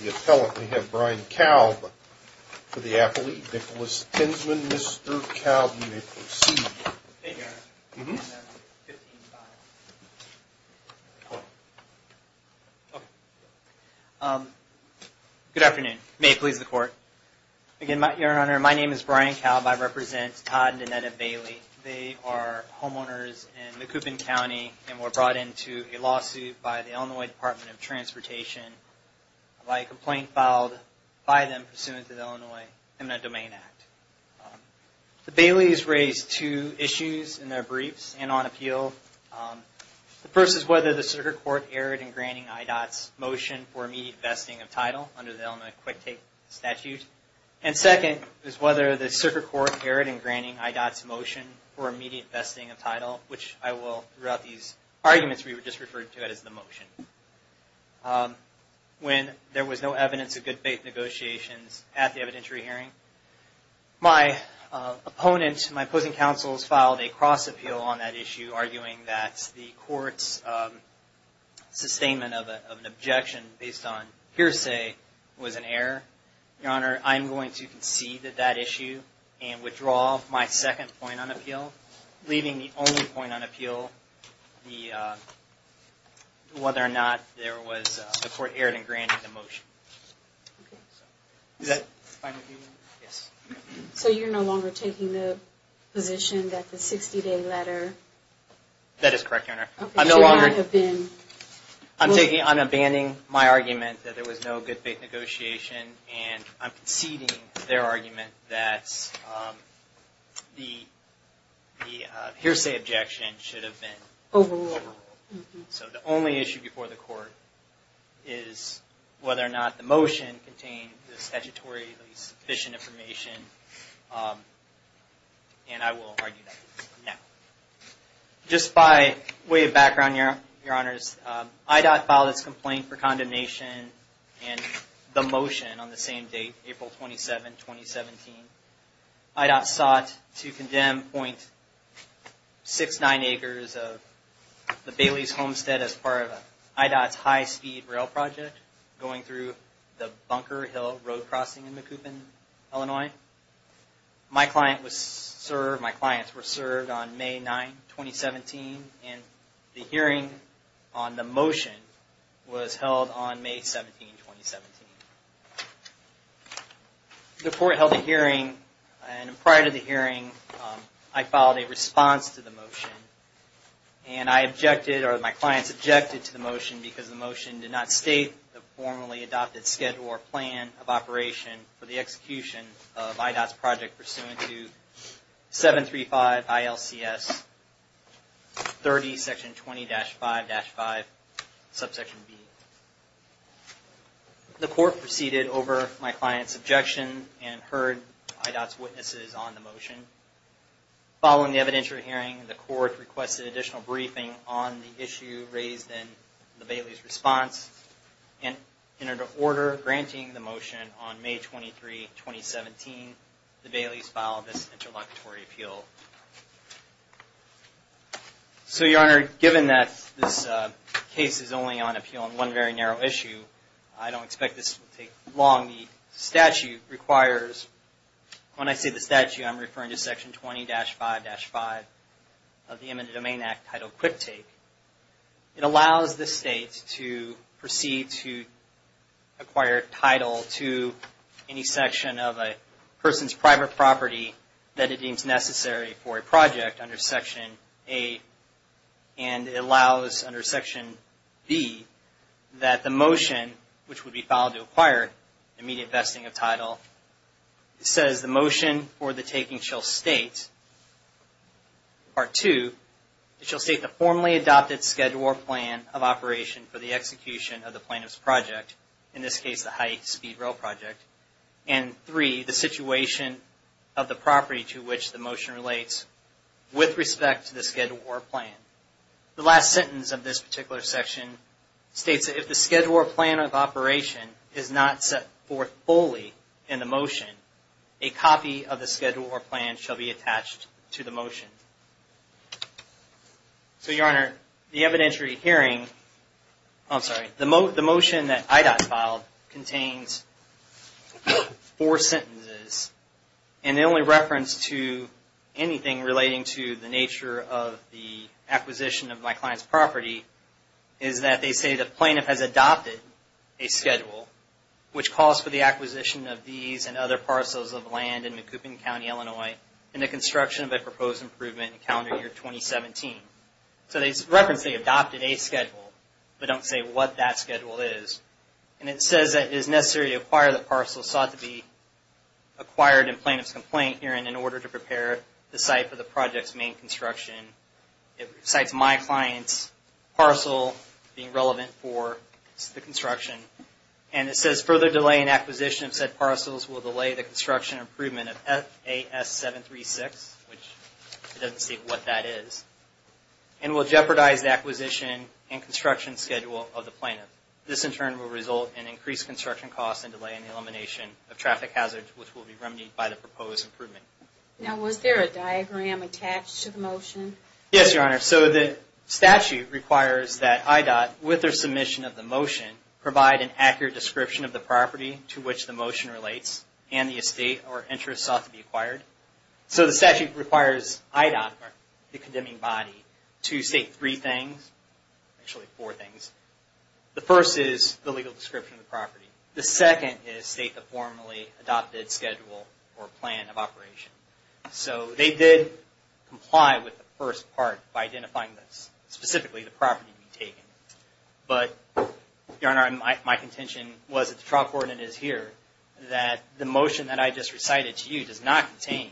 The appellant we have Brian Kalb for the affiliate, Nicholas Tinsman. Mr. Kalb, you may proceed. Thank you, Your Honor. Good afternoon. May it please the Court. Again, Your Honor, my name is Brian Kalb. I represent Todd and Danetta Ballye. They are homeowners in the Coupon County and were brought into a lawsuit by the Illinois Department of Transportation by a complaint filed by them pursuant to the Illinois Imminent Domain Act. The Ballye's raised two issues in their briefs and on appeal. The first is whether the circuit court erred in granting IDOT's motion for immediate vesting of title under the Illinois Quick Take Statute. And second is whether the circuit court erred in granting IDOT's motion for immediate vesting of title, which I will, throughout these arguments, we will just refer to it as the motion. When there was no evidence of good faith negotiations at the evidentiary hearing, my opponent, my opposing counsels filed a cross-appeal on that issue, arguing that the court's sustainment of an objection based on hearsay was an error. Your Honor, I'm going to concede that that issue and withdraw my second point on appeal, leaving the only point on appeal whether or not the court erred in granting the motion. Is that fine with you? Yes. So you're no longer taking the position that the 60-day letter... That is correct, Your Honor. I'm no longer... I'm abandoning my argument that there was no good faith negotiation, and I'm conceding their argument that the hearsay objection should have been... Overruled. So the only issue before the court is whether or not the motion contained the statutorily sufficient information, and I will argue that it did not. Just by way of background, Your Honors, IDOT filed its complaint for condemnation in the motion on the same date, April 27, 2017. IDOT sought to condemn .69 acres of the Bailey's Homestead as part of IDOT's high-speed rail project going through the Bunker Hill road crossing in Macoupin, Illinois. My client was served, my clients were served on May 9, 2017, and the hearing on the motion was held on May 17, 2017. The court held a hearing, and prior to the hearing, I filed a response to the motion. And I objected, or my clients objected to the motion because the motion did not state the formally adopted schedule or plan of operation for the execution of IDOT's project pursuant to 735 ILCS 30, Section 20-5-5, Subsection B. The court proceeded over my client's objection and heard IDOT's witnesses on the motion. Following the evidentiary hearing, the court requested additional briefing on the issue raised in the Bailey's response. And in order of granting the motion on May 23, 2017, the Bailey's filed this introductory appeal. So, Your Honor, given that this case is only on appeal on one very narrow issue, I don't expect this to take long. The statute requires, when I say the statute, I'm referring to Section 20-5-5 of the Imminent Domain Act, titled Quick Take. It allows the state to proceed to acquire title to any section of a person's private property that it deems necessary for a project under Section A. And it allows, under Section B, that the motion, which would be filed to acquire immediate vesting of title, says the motion for the taking shall state, Part 2, it shall state the formally adopted schedule or plan of operation for the execution of the plaintiff's project, in this case the high-speed rail project, and 3, the situation of the property to which the motion relates with respect to the schedule or plan. The last sentence of this particular section states that if the schedule or plan of operation is not set forth fully in the motion, a copy of the schedule or plan shall be attached to the motion. So, Your Honor, the evidentiary hearing, I'm sorry, the motion that IDOT filed contains four sentences. And the only reference to anything relating to the nature of the acquisition of my client's property is that they say the plaintiff has adopted a schedule, which calls for the acquisition of these and other parcels of land in Macoupin County, Illinois, in the construction of a proposed improvement in calendar year 2017. So, they reference the adopted A schedule, but don't say what that schedule is. And it says that it is necessary to acquire the parcel sought to be acquired in plaintiff's complaint hearing in order to prepare the site for the project's main construction. It cites my client's parcel being relevant for the construction. And it says further delay in acquisition of said parcels will delay the construction improvement of FAS 736, which it doesn't state what that is, and will jeopardize the acquisition and construction schedule of the plaintiff. This, in turn, will result in increased construction costs and delay in the elimination of traffic hazards, which will be remedied by the proposed improvement. Now, was there a diagram attached to the motion? Yes, Your Honor. So, the statute requires that IDOT, with their submission of the motion, provide an accurate description of the property to which the motion relates, and the estate or interest sought to be acquired. So, the statute requires IDOT, the condemning body, to state three things, actually four things. The first is the legal description of the property. The second is state the formally adopted schedule or plan of operation. So, they did comply with the first part by identifying this, specifically the property to be taken. But, Your Honor, my contention was that the trial coordinate is here, that the motion that I just recited to you does not contain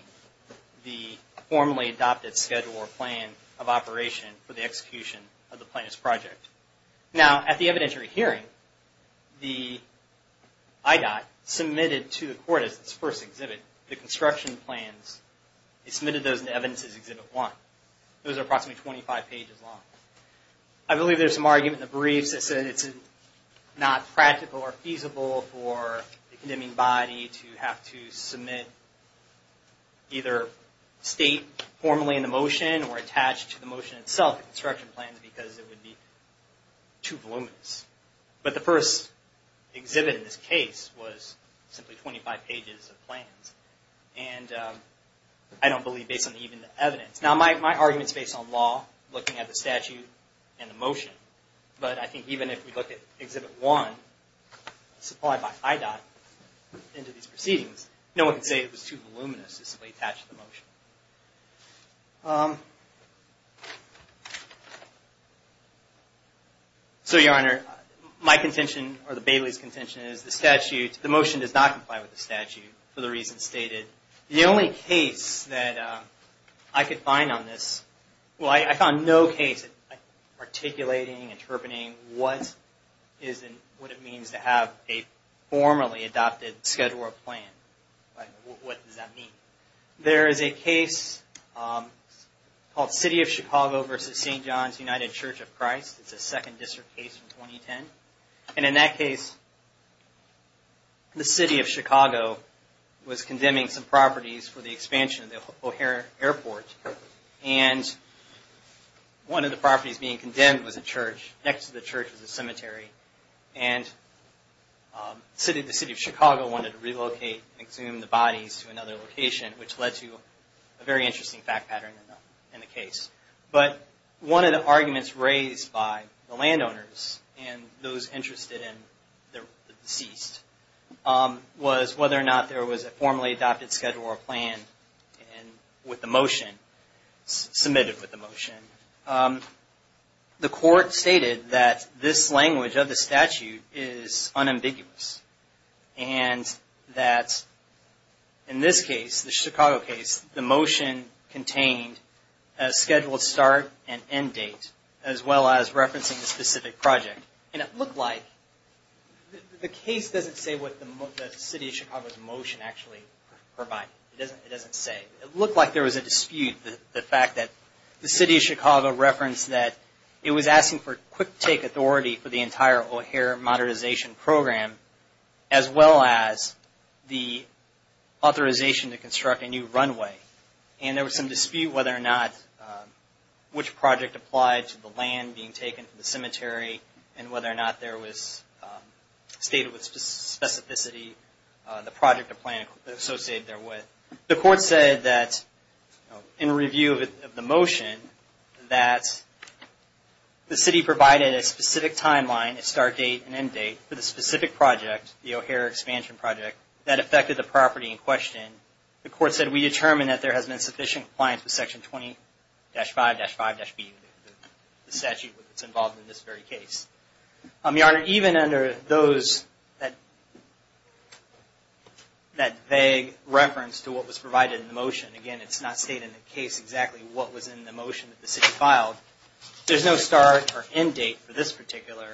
the formally adopted schedule or plan of operation for the execution of the plaintiff's project. Now, at the evidentiary hearing, the IDOT submitted to the court, as its first exhibit, the construction plans. It submitted those in Evidence Exhibit 1. Those are approximately 25 pages long. I believe there's some argument in the briefs that said it's not practical or feasible for the condemning body to have to submit either state formally in the motion or attached to the motion itself, the construction plans, because it would be too voluminous. But the first exhibit in this case was simply 25 pages of plans. And I don't believe based on even the evidence. Now, my argument is based on law, looking at the statute and the motion. But I think even if we look at Exhibit 1, supplied by IDOT into these proceedings, no one can say it was too voluminous to simply attach to the motion. So, Your Honor, my contention, or the Bailey's contention, is the motion does not comply with the statute for the reasons stated. The only case that I could find on this, well, I found no case articulating, interpreting what it means to have a formally adopted schedule or plan. What does that mean? There is a case called City of Chicago v. St. John's United Church of Christ. It's a Second District case from 2010. And in that case, the City of Chicago was condemning some properties for the expansion of the O'Hare Airport. And one of the properties being condemned was a church. Next to the church was a cemetery. And the City of Chicago wanted to relocate and exhume the bodies to another location, which led to a very interesting fact pattern in the case. But one of the arguments raised by the landowners and those interested in the deceased was whether or not there was a formally adopted schedule or plan with the motion, submitted with the motion. The court stated that this language of the statute is unambiguous. And that in this case, the Chicago case, the motion contained a scheduled start and end date, as well as referencing a specific project. And it looked like the case doesn't say what the City of Chicago's motion actually provided. It doesn't say. It looked like there was a dispute. The fact that the City of Chicago referenced that it was asking for quick-take authority for the entire O'Hare modernization program, as well as the authorization to construct a new runway. And there was some dispute whether or not which project applied to the land being taken from the cemetery and whether or not there was stated with specificity the project or plan associated therewith. The court said that, in review of the motion, that the City provided a specific timeline, a start date and end date, for the specific project, the O'Hare expansion project, that affected the property in question. The court said, we determined that there has been sufficient compliance with Section 20-5-5-B, the statute that's involved in this very case. Your Honor, even under that vague reference to what was provided in the motion, again, it's not stated in the case exactly what was in the motion that the City filed, there's no start or end date for this particular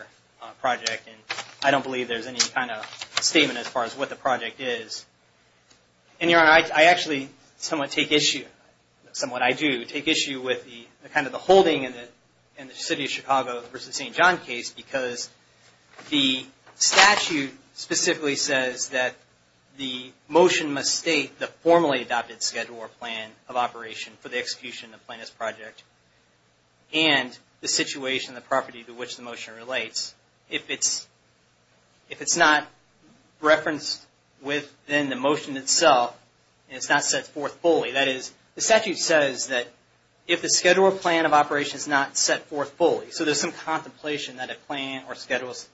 project. And I don't believe there's any kind of statement as far as what the project is. And Your Honor, I actually somewhat take issue, somewhat I do, I take issue with kind of the holding in the City of Chicago v. St. John case because the statute specifically says that the motion must state the formally adopted schedule or plan of operation for the execution of the plaintiff's project and the situation of the property to which the motion relates. If it's not referenced within the motion itself and it's not set forth fully, that is, the statute says that if the schedule or plan of operation is not set forth fully, so there's some contemplation that a plan or schedule is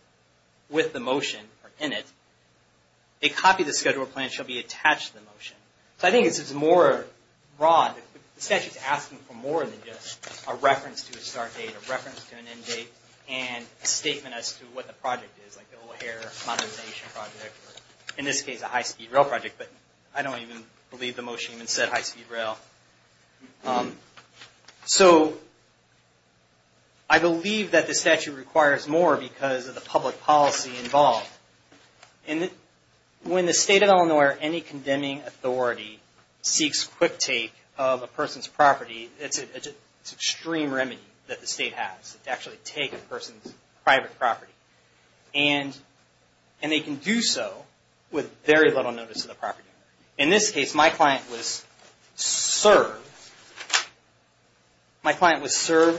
with the motion or in it, a copy of the schedule or plan shall be attached to the motion. So I think it's more broad. The statute's asking for more than just a reference to a start date, a reference to an end date, and a statement as to what the project is, like the O'Hare modernization project, or in this case a high-speed rail project. But I don't even believe the motion even said high-speed rail. So I believe that the statute requires more because of the public policy involved. When the State of Illinois or any condemning authority seeks quick take of a person's property, it's an extreme remedy that the State has to actually take a person's private property. And they can do so with very little notice of the property owner. In this case, my client was served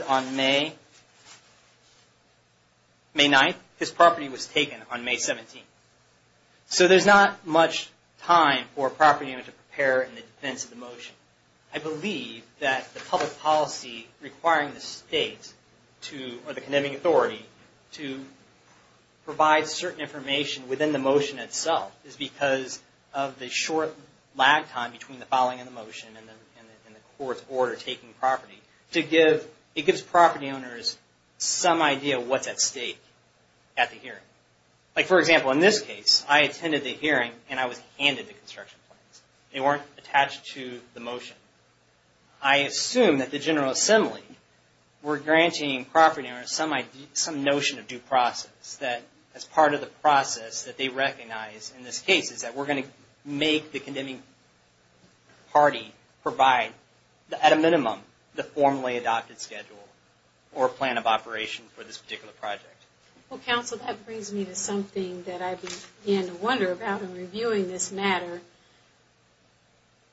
on May 9th. His property was taken on May 17th. So there's not much time for a property owner to prepare in the defense of the motion. I believe that the public policy requiring the State or the condemning authority to provide certain information within the motion itself is because of the short lag time between the filing of the motion and the court's order taking property. It gives property owners some idea of what's at stake at the hearing. Like for example, in this case, I attended the hearing and I was handed the construction plans. They weren't attached to the motion. I assume that the General Assembly were granting property owners some notion of due process, that as part of the process that they recognize in this case is that we're going to make the condemning party provide, at a minimum, the formally adopted schedule or plan of operation for this particular project. Well, Counsel, that brings me to something that I began to wonder about in reviewing this matter.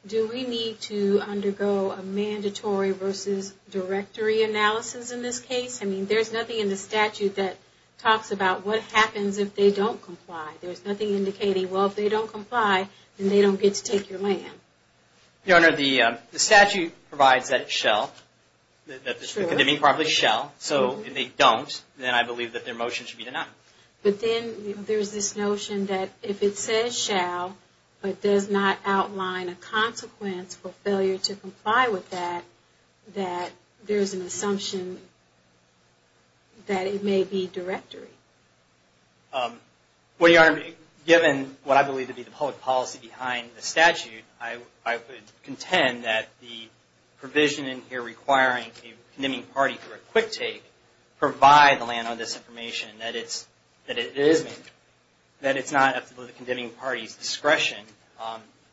Do we need to undergo a mandatory versus directory analysis in this case? I mean, there's nothing in the statute that talks about what happens if they don't comply. There's nothing indicating, well, if they don't comply, then they don't get to take your land. Your Honor, the statute provides that it shall, that the condemning property shall. So if they don't, then I believe that their motion should be denied. But then there's this notion that if it says shall, but does not outline a consequence for failure to comply with that, that there's an assumption that it may be directory. Well, Your Honor, given what I believe to be the public policy behind the statute, I would contend that the provision in here requiring a condemning party for a quick take provide the land on this information, that it is mandatory, that it's not up to the condemning party's discretion.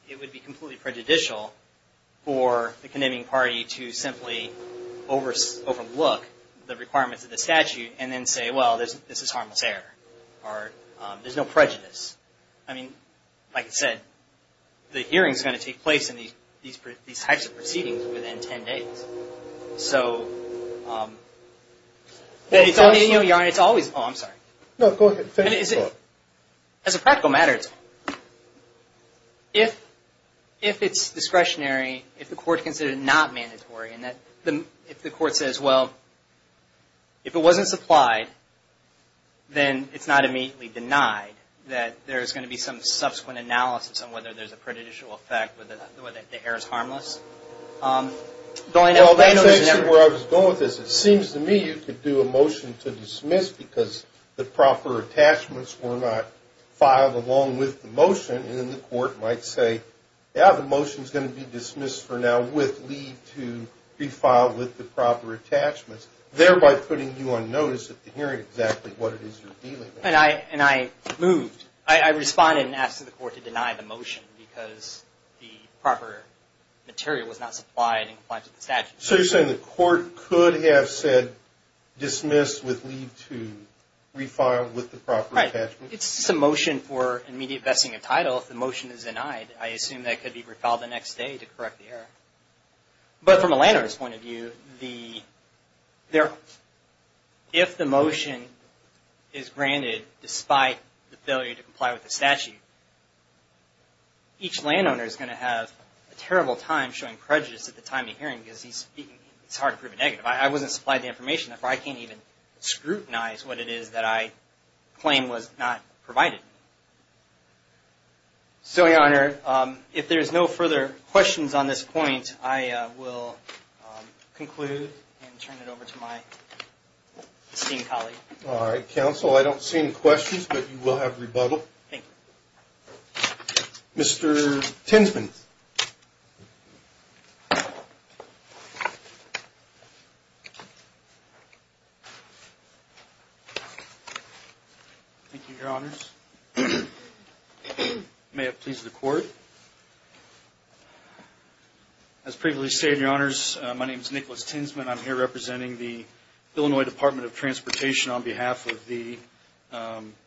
It would be completely prejudicial for the condemning party to simply overlook the requirements of the statute and then say, well, this is harmless error, or there's no prejudice. I mean, like I said, the hearing's going to take place in these types of proceedings within 10 days. So, Your Honor, it's always, oh, I'm sorry. No, go ahead. As a practical matter, if it's discretionary, if the court considers it not mandatory, and if the court says, well, if it wasn't supplied, then it's not immediately denied that there's going to be some subsequent analysis on whether there's a prejudicial effect, whether the error's harmless. Well, thanks to where I was going with this, it seems to me you could do a motion to dismiss because the proper attachments were not filed along with the motion, and then the court might say, yeah, the motion's going to be dismissed for now with leave to refile with the proper attachments, thereby putting you on notice at the hearing exactly what it is you're dealing with. And I moved. I responded and asked the court to deny the motion because the proper material was not supplied in compliance with the statute. So you're saying the court could have said dismiss with leave to refile with the proper attachments? Right. It's just a motion for immediate vesting of title if the motion is denied. I assume that could be refiled the next day to correct the error. But from a landowner's point of view, if the motion is granted despite the failure to comply with the statute, each landowner is going to have a terrible time showing prejudice at the time of hearing because it's hard to prove a negative. I wasn't supplied the information. Therefore, I can't even scrutinize what it is that I claim was not provided. So, Your Honor, if there's no further questions on this point, I will conclude and turn it over to my esteemed colleague. All right, counsel. I don't see any questions, but you will have rebuttal. Thank you. Mr. Tinsman. Thank you, Your Honors. May it please the Court. As previously stated, Your Honors, my name is Nicholas Tinsman. I'm here representing the Illinois Department of Transportation on behalf of the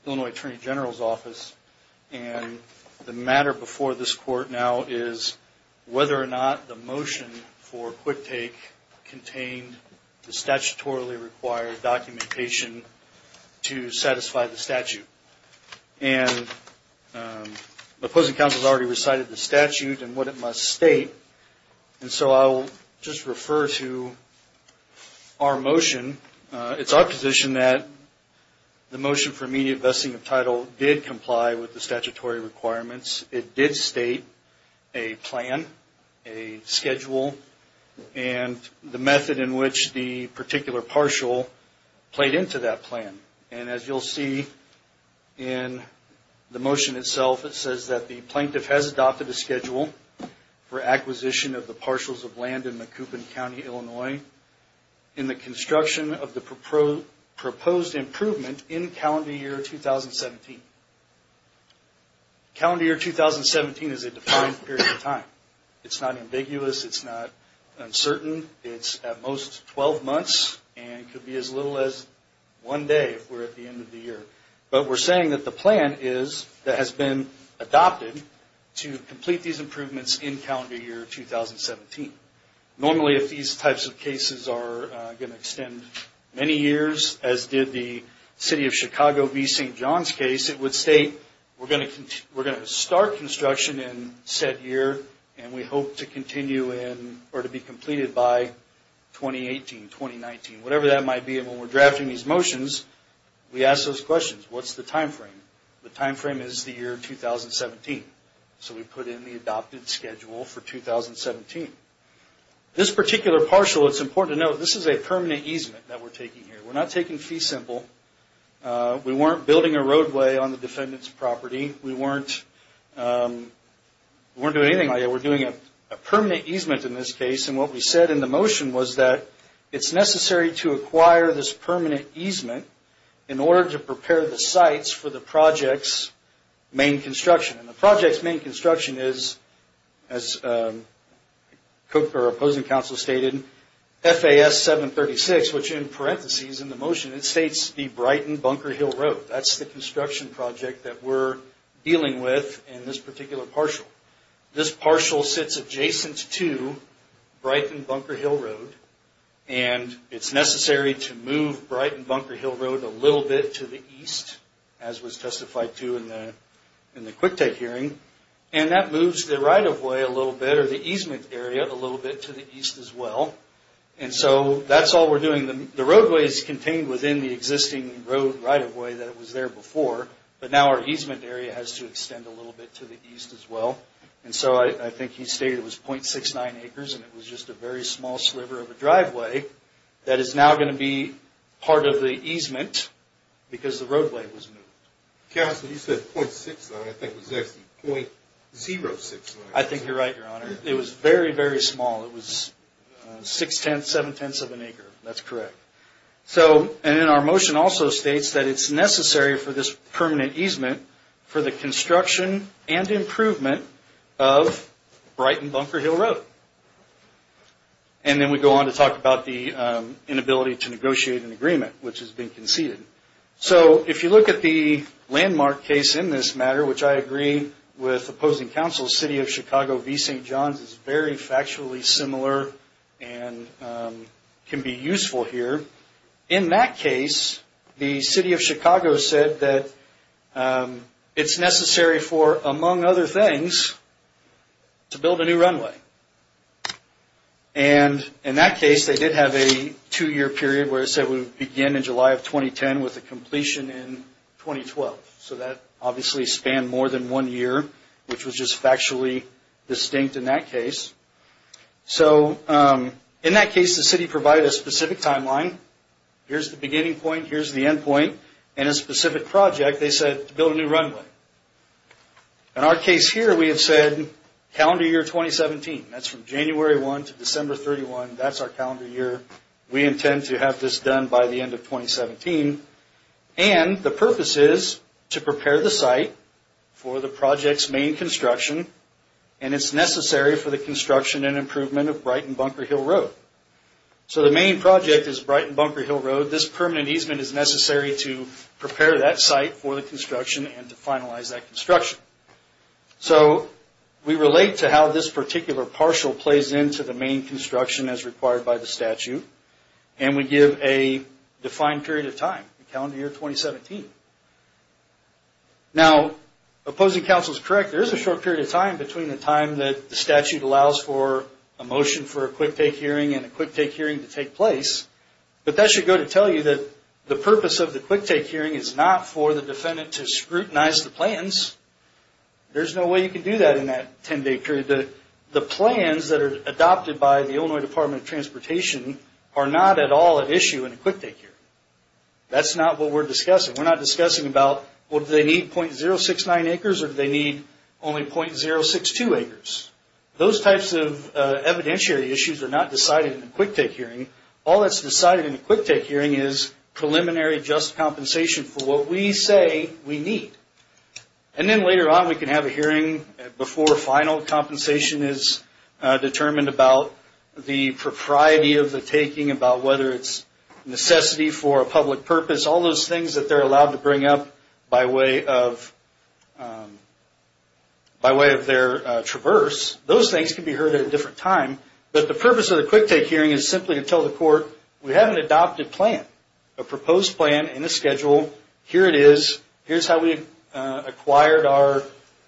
Illinois Attorney General's Office. And the matter before this Court now is whether or not the motion for quick take contained the statutorily required documentation to satisfy the statute. And the opposing counsel has already recited the statute and what it must state. And so I will just refer to our motion. It's our position that the motion for immediate vesting of title did comply with the statutory requirements. It did state a plan, a schedule, and the method in which the particular partial played into that plan. And as you'll see in the motion itself, it says that the plaintiff has adopted a schedule for acquisition of the partials of land in Macoupin County, Illinois, in the construction of the proposed improvement in calendar year 2017. Calendar year 2017 is a defined period of time. It's not ambiguous. It's not uncertain. It's at most 12 months and could be as little as one day if we're at the end of the year. But we're saying that the plan is that has been adopted to complete these improvements in calendar year 2017. Normally, if these types of cases are going to extend many years, as did the City of Chicago v. St. John's case, it would state we're going to start construction in said year and we hope to continue in or to be completed by 2018, 2019, whatever that might be. And when we're drafting these motions, we ask those questions. What's the time frame? The time frame is the year 2017. So we put in the adopted schedule for 2017. This particular partial, it's important to note, this is a permanent easement that we're taking here. We're not taking fee simple. We weren't building a roadway on the defendant's property. We weren't doing anything like that. We're doing a permanent easement in this case. And what we said in the motion was that it's necessary to acquire this permanent easement in order to prepare the sites for the project's main construction. And the project's main construction is, as our opposing counsel stated, FAS 736, which in parentheses in the motion, it states the Brighton Bunker Hill Road. That's the construction project that we're dealing with in this particular partial. This partial sits adjacent to Brighton Bunker Hill Road, and it's necessary to move Brighton Bunker Hill Road a little bit to the east, as was testified to in the QuickTake hearing, and that moves the right-of-way a little bit or the easement area a little bit to the east as well. And so that's all we're doing. The roadway is contained within the existing road right-of-way that was there before, but now our easement area has to extend a little bit to the east as well. And so I think he stated it was 0.69 acres, and it was just a very small sliver of a driveway that is now going to be part of the easement because the roadway was moved. Counsel, you said 0.69. I think it was actually 0.06. I think you're right, Your Honor. It was very, very small. It was 0.6, 0.7 of an acre. That's correct. And then our motion also states that it's necessary for this permanent easement for the construction and improvement of Brighton Bunker Hill Road. And then we go on to talk about the inability to negotiate an agreement, which has been conceded. So if you look at the landmark case in this matter, which I agree with opposing counsel, City of Chicago v. St. John's is very factually similar and can be useful here. In that case, the City of Chicago said that it's necessary for, among other things, to build a new runway. And in that case, they did have a two-year period where it said it would begin in July of 2010 with a completion in 2012. So that obviously spanned more than one year, which was just factually distinct in that case. So in that case, the city provided a specific timeline. Here's the beginning point. Here's the end point. And a specific project, they said, to build a new runway. In our case here, we have said calendar year 2017. That's from January 1 to December 31. That's our calendar year. We intend to have this done by the end of 2017. And the purpose is to prepare the site for the project's main construction. And it's necessary for the construction and improvement of Brighton Bunker Hill Road. So the main project is Brighton Bunker Hill Road. This permanent easement is necessary to prepare that site for the construction and to finalize that construction. So we relate to how this particular partial plays into the main construction as required by the statute. And we give a defined period of time, calendar year 2017. Now, opposing counsel is correct. There is a short period of time between the time that the statute allows for a motion for a quick take hearing and a quick take hearing to take place. But that should go to tell you that the purpose of the quick take hearing is not for the defendant to scrutinize the plans. There's no way you can do that in that 10-day period. The plans that are adopted by the Illinois Department of Transportation are not at all at issue in a quick take hearing. That's not what we're discussing. We're not discussing about, well, do they need .069 acres or do they need only .062 acres? Those types of evidentiary issues are not decided in a quick take hearing. All that's decided in a quick take hearing is preliminary just compensation for what we say we need. And then later on we can have a hearing before final compensation is determined about the propriety of the taking, about whether it's necessity for a public purpose, all those things that they're allowed to bring up by way of their traverse. Those things can be heard at a different time. But the purpose of the quick take hearing is simply to tell the court, we have an adopted plan, a proposed plan and a schedule. Here it is. Here's how we acquired our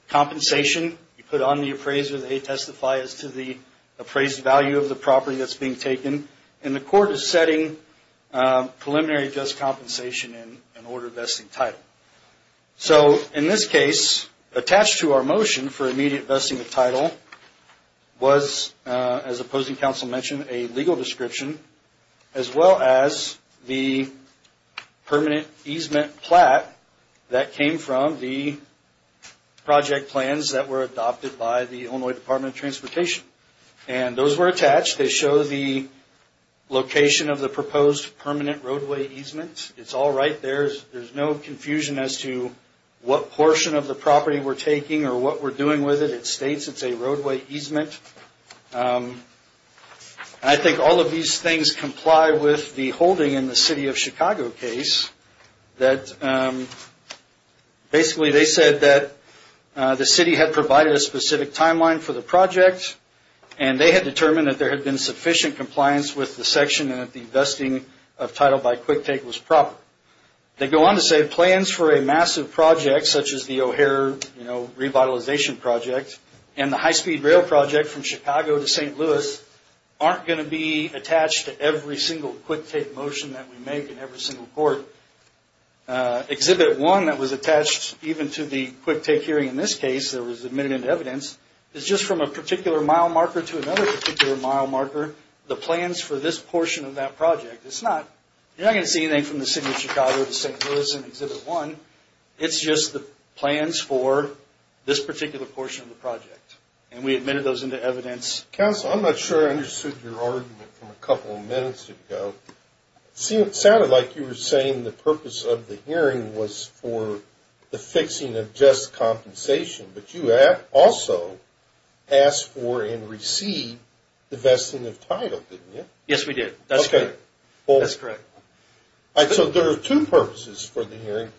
compensation. We put it on the appraiser. They testify as to the appraised value of the property that's being taken. And the court is setting preliminary just compensation in order of vesting title. So in this case, attached to our motion for immediate vesting of title was, as opposing counsel mentioned, a legal description, as well as the permanent easement plat that came from the project plans that were adopted by the Illinois Department of Transportation. And those were attached. They show the location of the proposed permanent roadway easement. It's all right there. There's no confusion as to what portion of the property we're taking or what we're doing with it. It states it's a roadway easement. And I think all of these things comply with the holding in the city of Chicago case that basically they said that the city had provided a specific timeline for the project and they had determined that there had been sufficient compliance with the section and that the vesting of title by quick take was proper. They go on to say plans for a massive project such as the O'Hare, you know, from Chicago to St. Louis aren't going to be attached to every single quick take motion that we make in every single court. Exhibit 1 that was attached even to the quick take hearing in this case that was admitted into evidence is just from a particular mile marker to another particular mile marker the plans for this portion of that project. You're not going to see anything from the city of Chicago to St. Louis in Exhibit 1. It's just the plans for this particular portion of the project. And we admitted those into evidence. Counsel, I'm not sure I understood your argument from a couple of minutes ago. It sounded like you were saying the purpose of the hearing was for the fixing of just compensation, but you also asked for and received the vesting of title, didn't you? Yes, we did. That's correct. So there are two purposes for the hearing.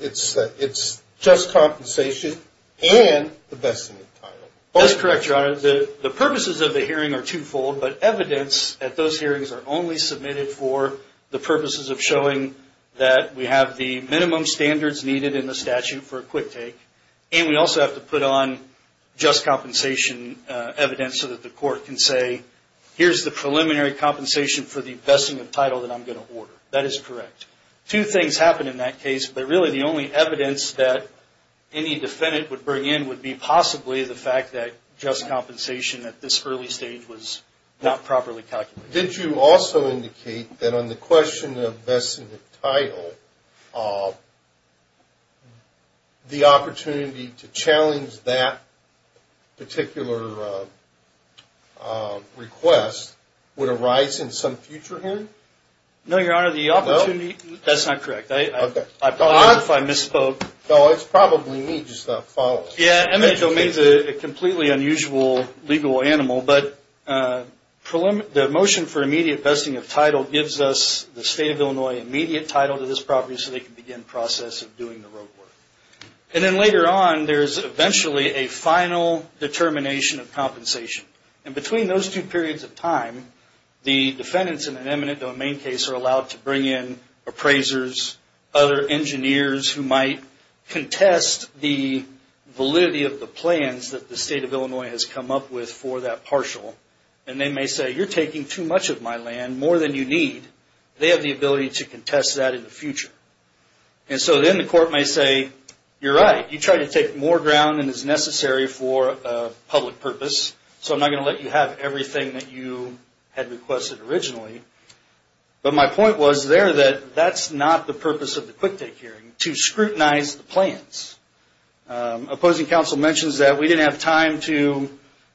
It's just compensation and the vesting of title. That's correct, Your Honor. The purposes of the hearing are twofold, but evidence at those hearings are only submitted for the purposes of showing that we have the minimum standards needed in the statute for a quick take, and we also have to put on just compensation evidence so that the court can say, here's the preliminary compensation for the vesting of title that I'm going to order. That is correct. Two things happened in that case, but really the only evidence that any defendant would bring in would be possibly the fact that just compensation at this early stage was not properly calculated. Did you also indicate that on the question of vesting of title, the opportunity to challenge that particular request would arise in some future hearing? No, Your Honor. That's not correct. I apologize if I misspoke. No, it's probably me just not following. Yeah, eminent domain is a completely unusual legal animal, but the motion for immediate vesting of title gives us the State of Illinois immediate title to this property so they can begin the process of doing the rote work. And then later on, there's eventually a final determination of compensation. And between those two periods of time, the defendants in an eminent domain case are allowed to bring in appraisers, other engineers who might contest the validity of the plans that the State of Illinois has come up with for that partial. And they may say, you're taking too much of my land, more than you need. They have the ability to contest that in the future. And so then the court may say, you're right. You tried to take more ground than is necessary for a public purpose, so I'm not going to let you have everything that you had requested originally. But my point was there that that's not the purpose of the quick take hearing, to scrutinize the plans. Opposing counsel mentions that we didn't have time to,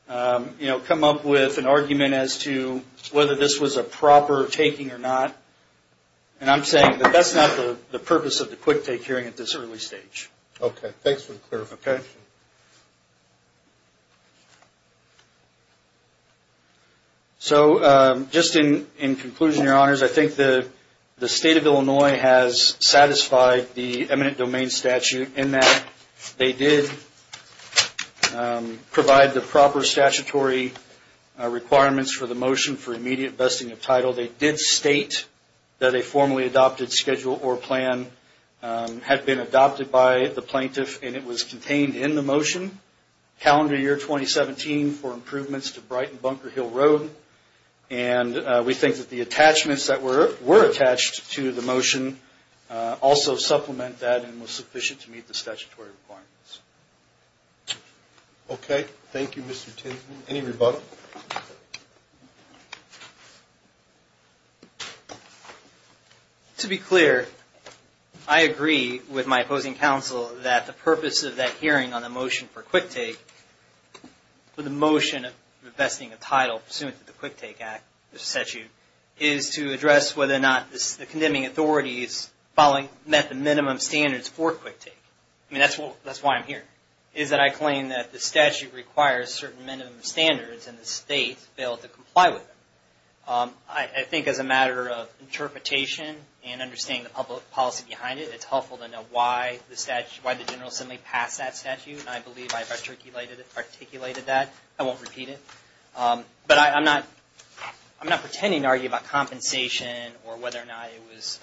you know, come up with an argument as to whether this was a proper taking or not. And I'm saying that that's not the purpose of the quick take hearing at this early stage. Okay, thanks for the clarification. So just in conclusion, Your Honors, I think the State of Illinois has satisfied the eminent domain statute in that they did provide the proper statutory requirements for the motion for immediate vesting of title. They did state that a formally adopted schedule or plan had been adopted by the plaintiff, and it was contained in the motion, calendar year 2017, for improvements to Brighton Bunker Hill Road. And we think that the attachments that were attached to the motion also supplement that and were sufficient to meet the statutory requirements. Okay, thank you, Mr. Tinkman. Any rebuttal? To be clear, I agree with my opposing counsel that the purpose of that hearing on the motion for quick take, for the motion of vesting of title pursuant to the Quick Take Act, the statute, is to address whether or not the condemning authorities met the minimum standards for quick take. I mean, that's why I'm here, is that I claim that the statute requires certain minimum standards, and the State failed to comply with them. I think as a matter of interpretation and understanding the public policy behind it, it's helpful to know why the General Assembly passed that statute, and I believe I articulated that. I won't repeat it. But I'm not pretending to argue about compensation or whether or not it was,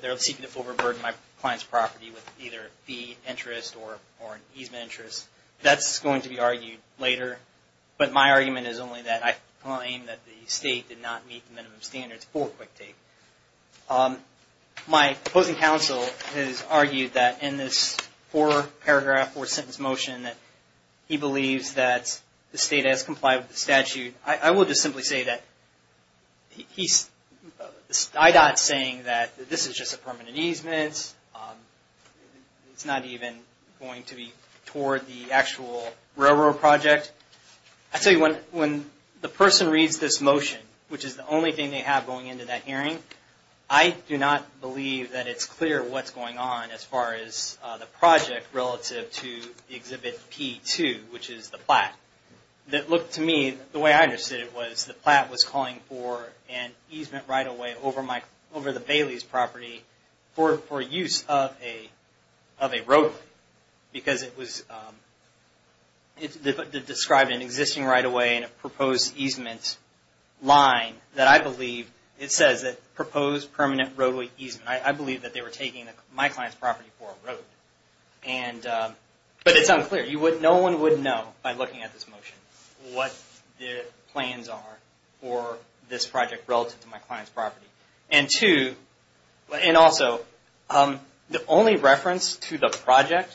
they're seeking to overburden my client's property with either fee interest or an easement interest. That's going to be argued later. But my argument is only that I claim that the State did not meet the minimum standards for quick take. My opposing counsel has argued that in this four-paragraph, four-sentence motion, that he believes that the State has complied with the statute. I will just simply say that I.D.O.T. is saying that this is just a permanent easement. It's not even going to be toward the actual railroad project. I tell you, when the person reads this motion, which is the only thing they have going into that hearing, I do not believe that it's clear what's going on as far as the project relative to Exhibit P2, which is the plat. To me, the way I understood it was the plat was calling for an easement right-of-way over the Bailey's property for use of a roadway because it described an existing right-of-way and a proposed easement line that I believe it says that proposed permanent roadway easement. I believe that they were taking my client's property for a roadway. But it's unclear. No one would know by looking at this motion what the plans are for this project relative to my client's property. And two, and also, the only reference to the project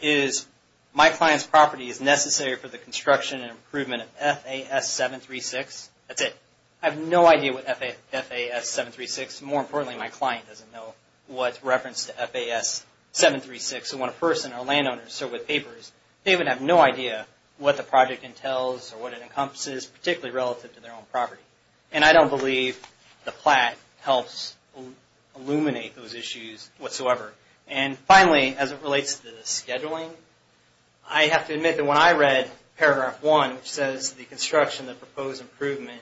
is my client's property is necessary for the construction and improvement of FAS 736. That's it. I have no idea what FAS 736. More importantly, my client doesn't know what reference to FAS 736. So when a person or a landowner is served with papers, they would have no idea what the project entails or what it encompasses, particularly relative to their own property. And I don't believe the plat helps illuminate those issues whatsoever. And finally, as it relates to the scheduling, I have to admit that when I read Paragraph 1, which says the construction, the proposed improvement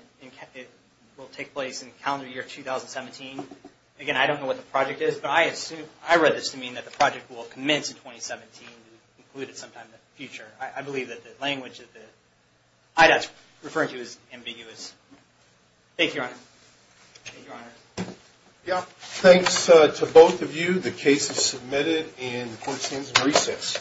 will take place in calendar year 2017, again, I don't know what the project is. But I read this to mean that the project will commence in 2017 and be included sometime in the future. I believe that the language that the IDOT's referring to is ambiguous. Thank you, Your Honor. Thank you, Your Honor. Yeah. Thanks to both of you. The case is submitted and the court stands in recess.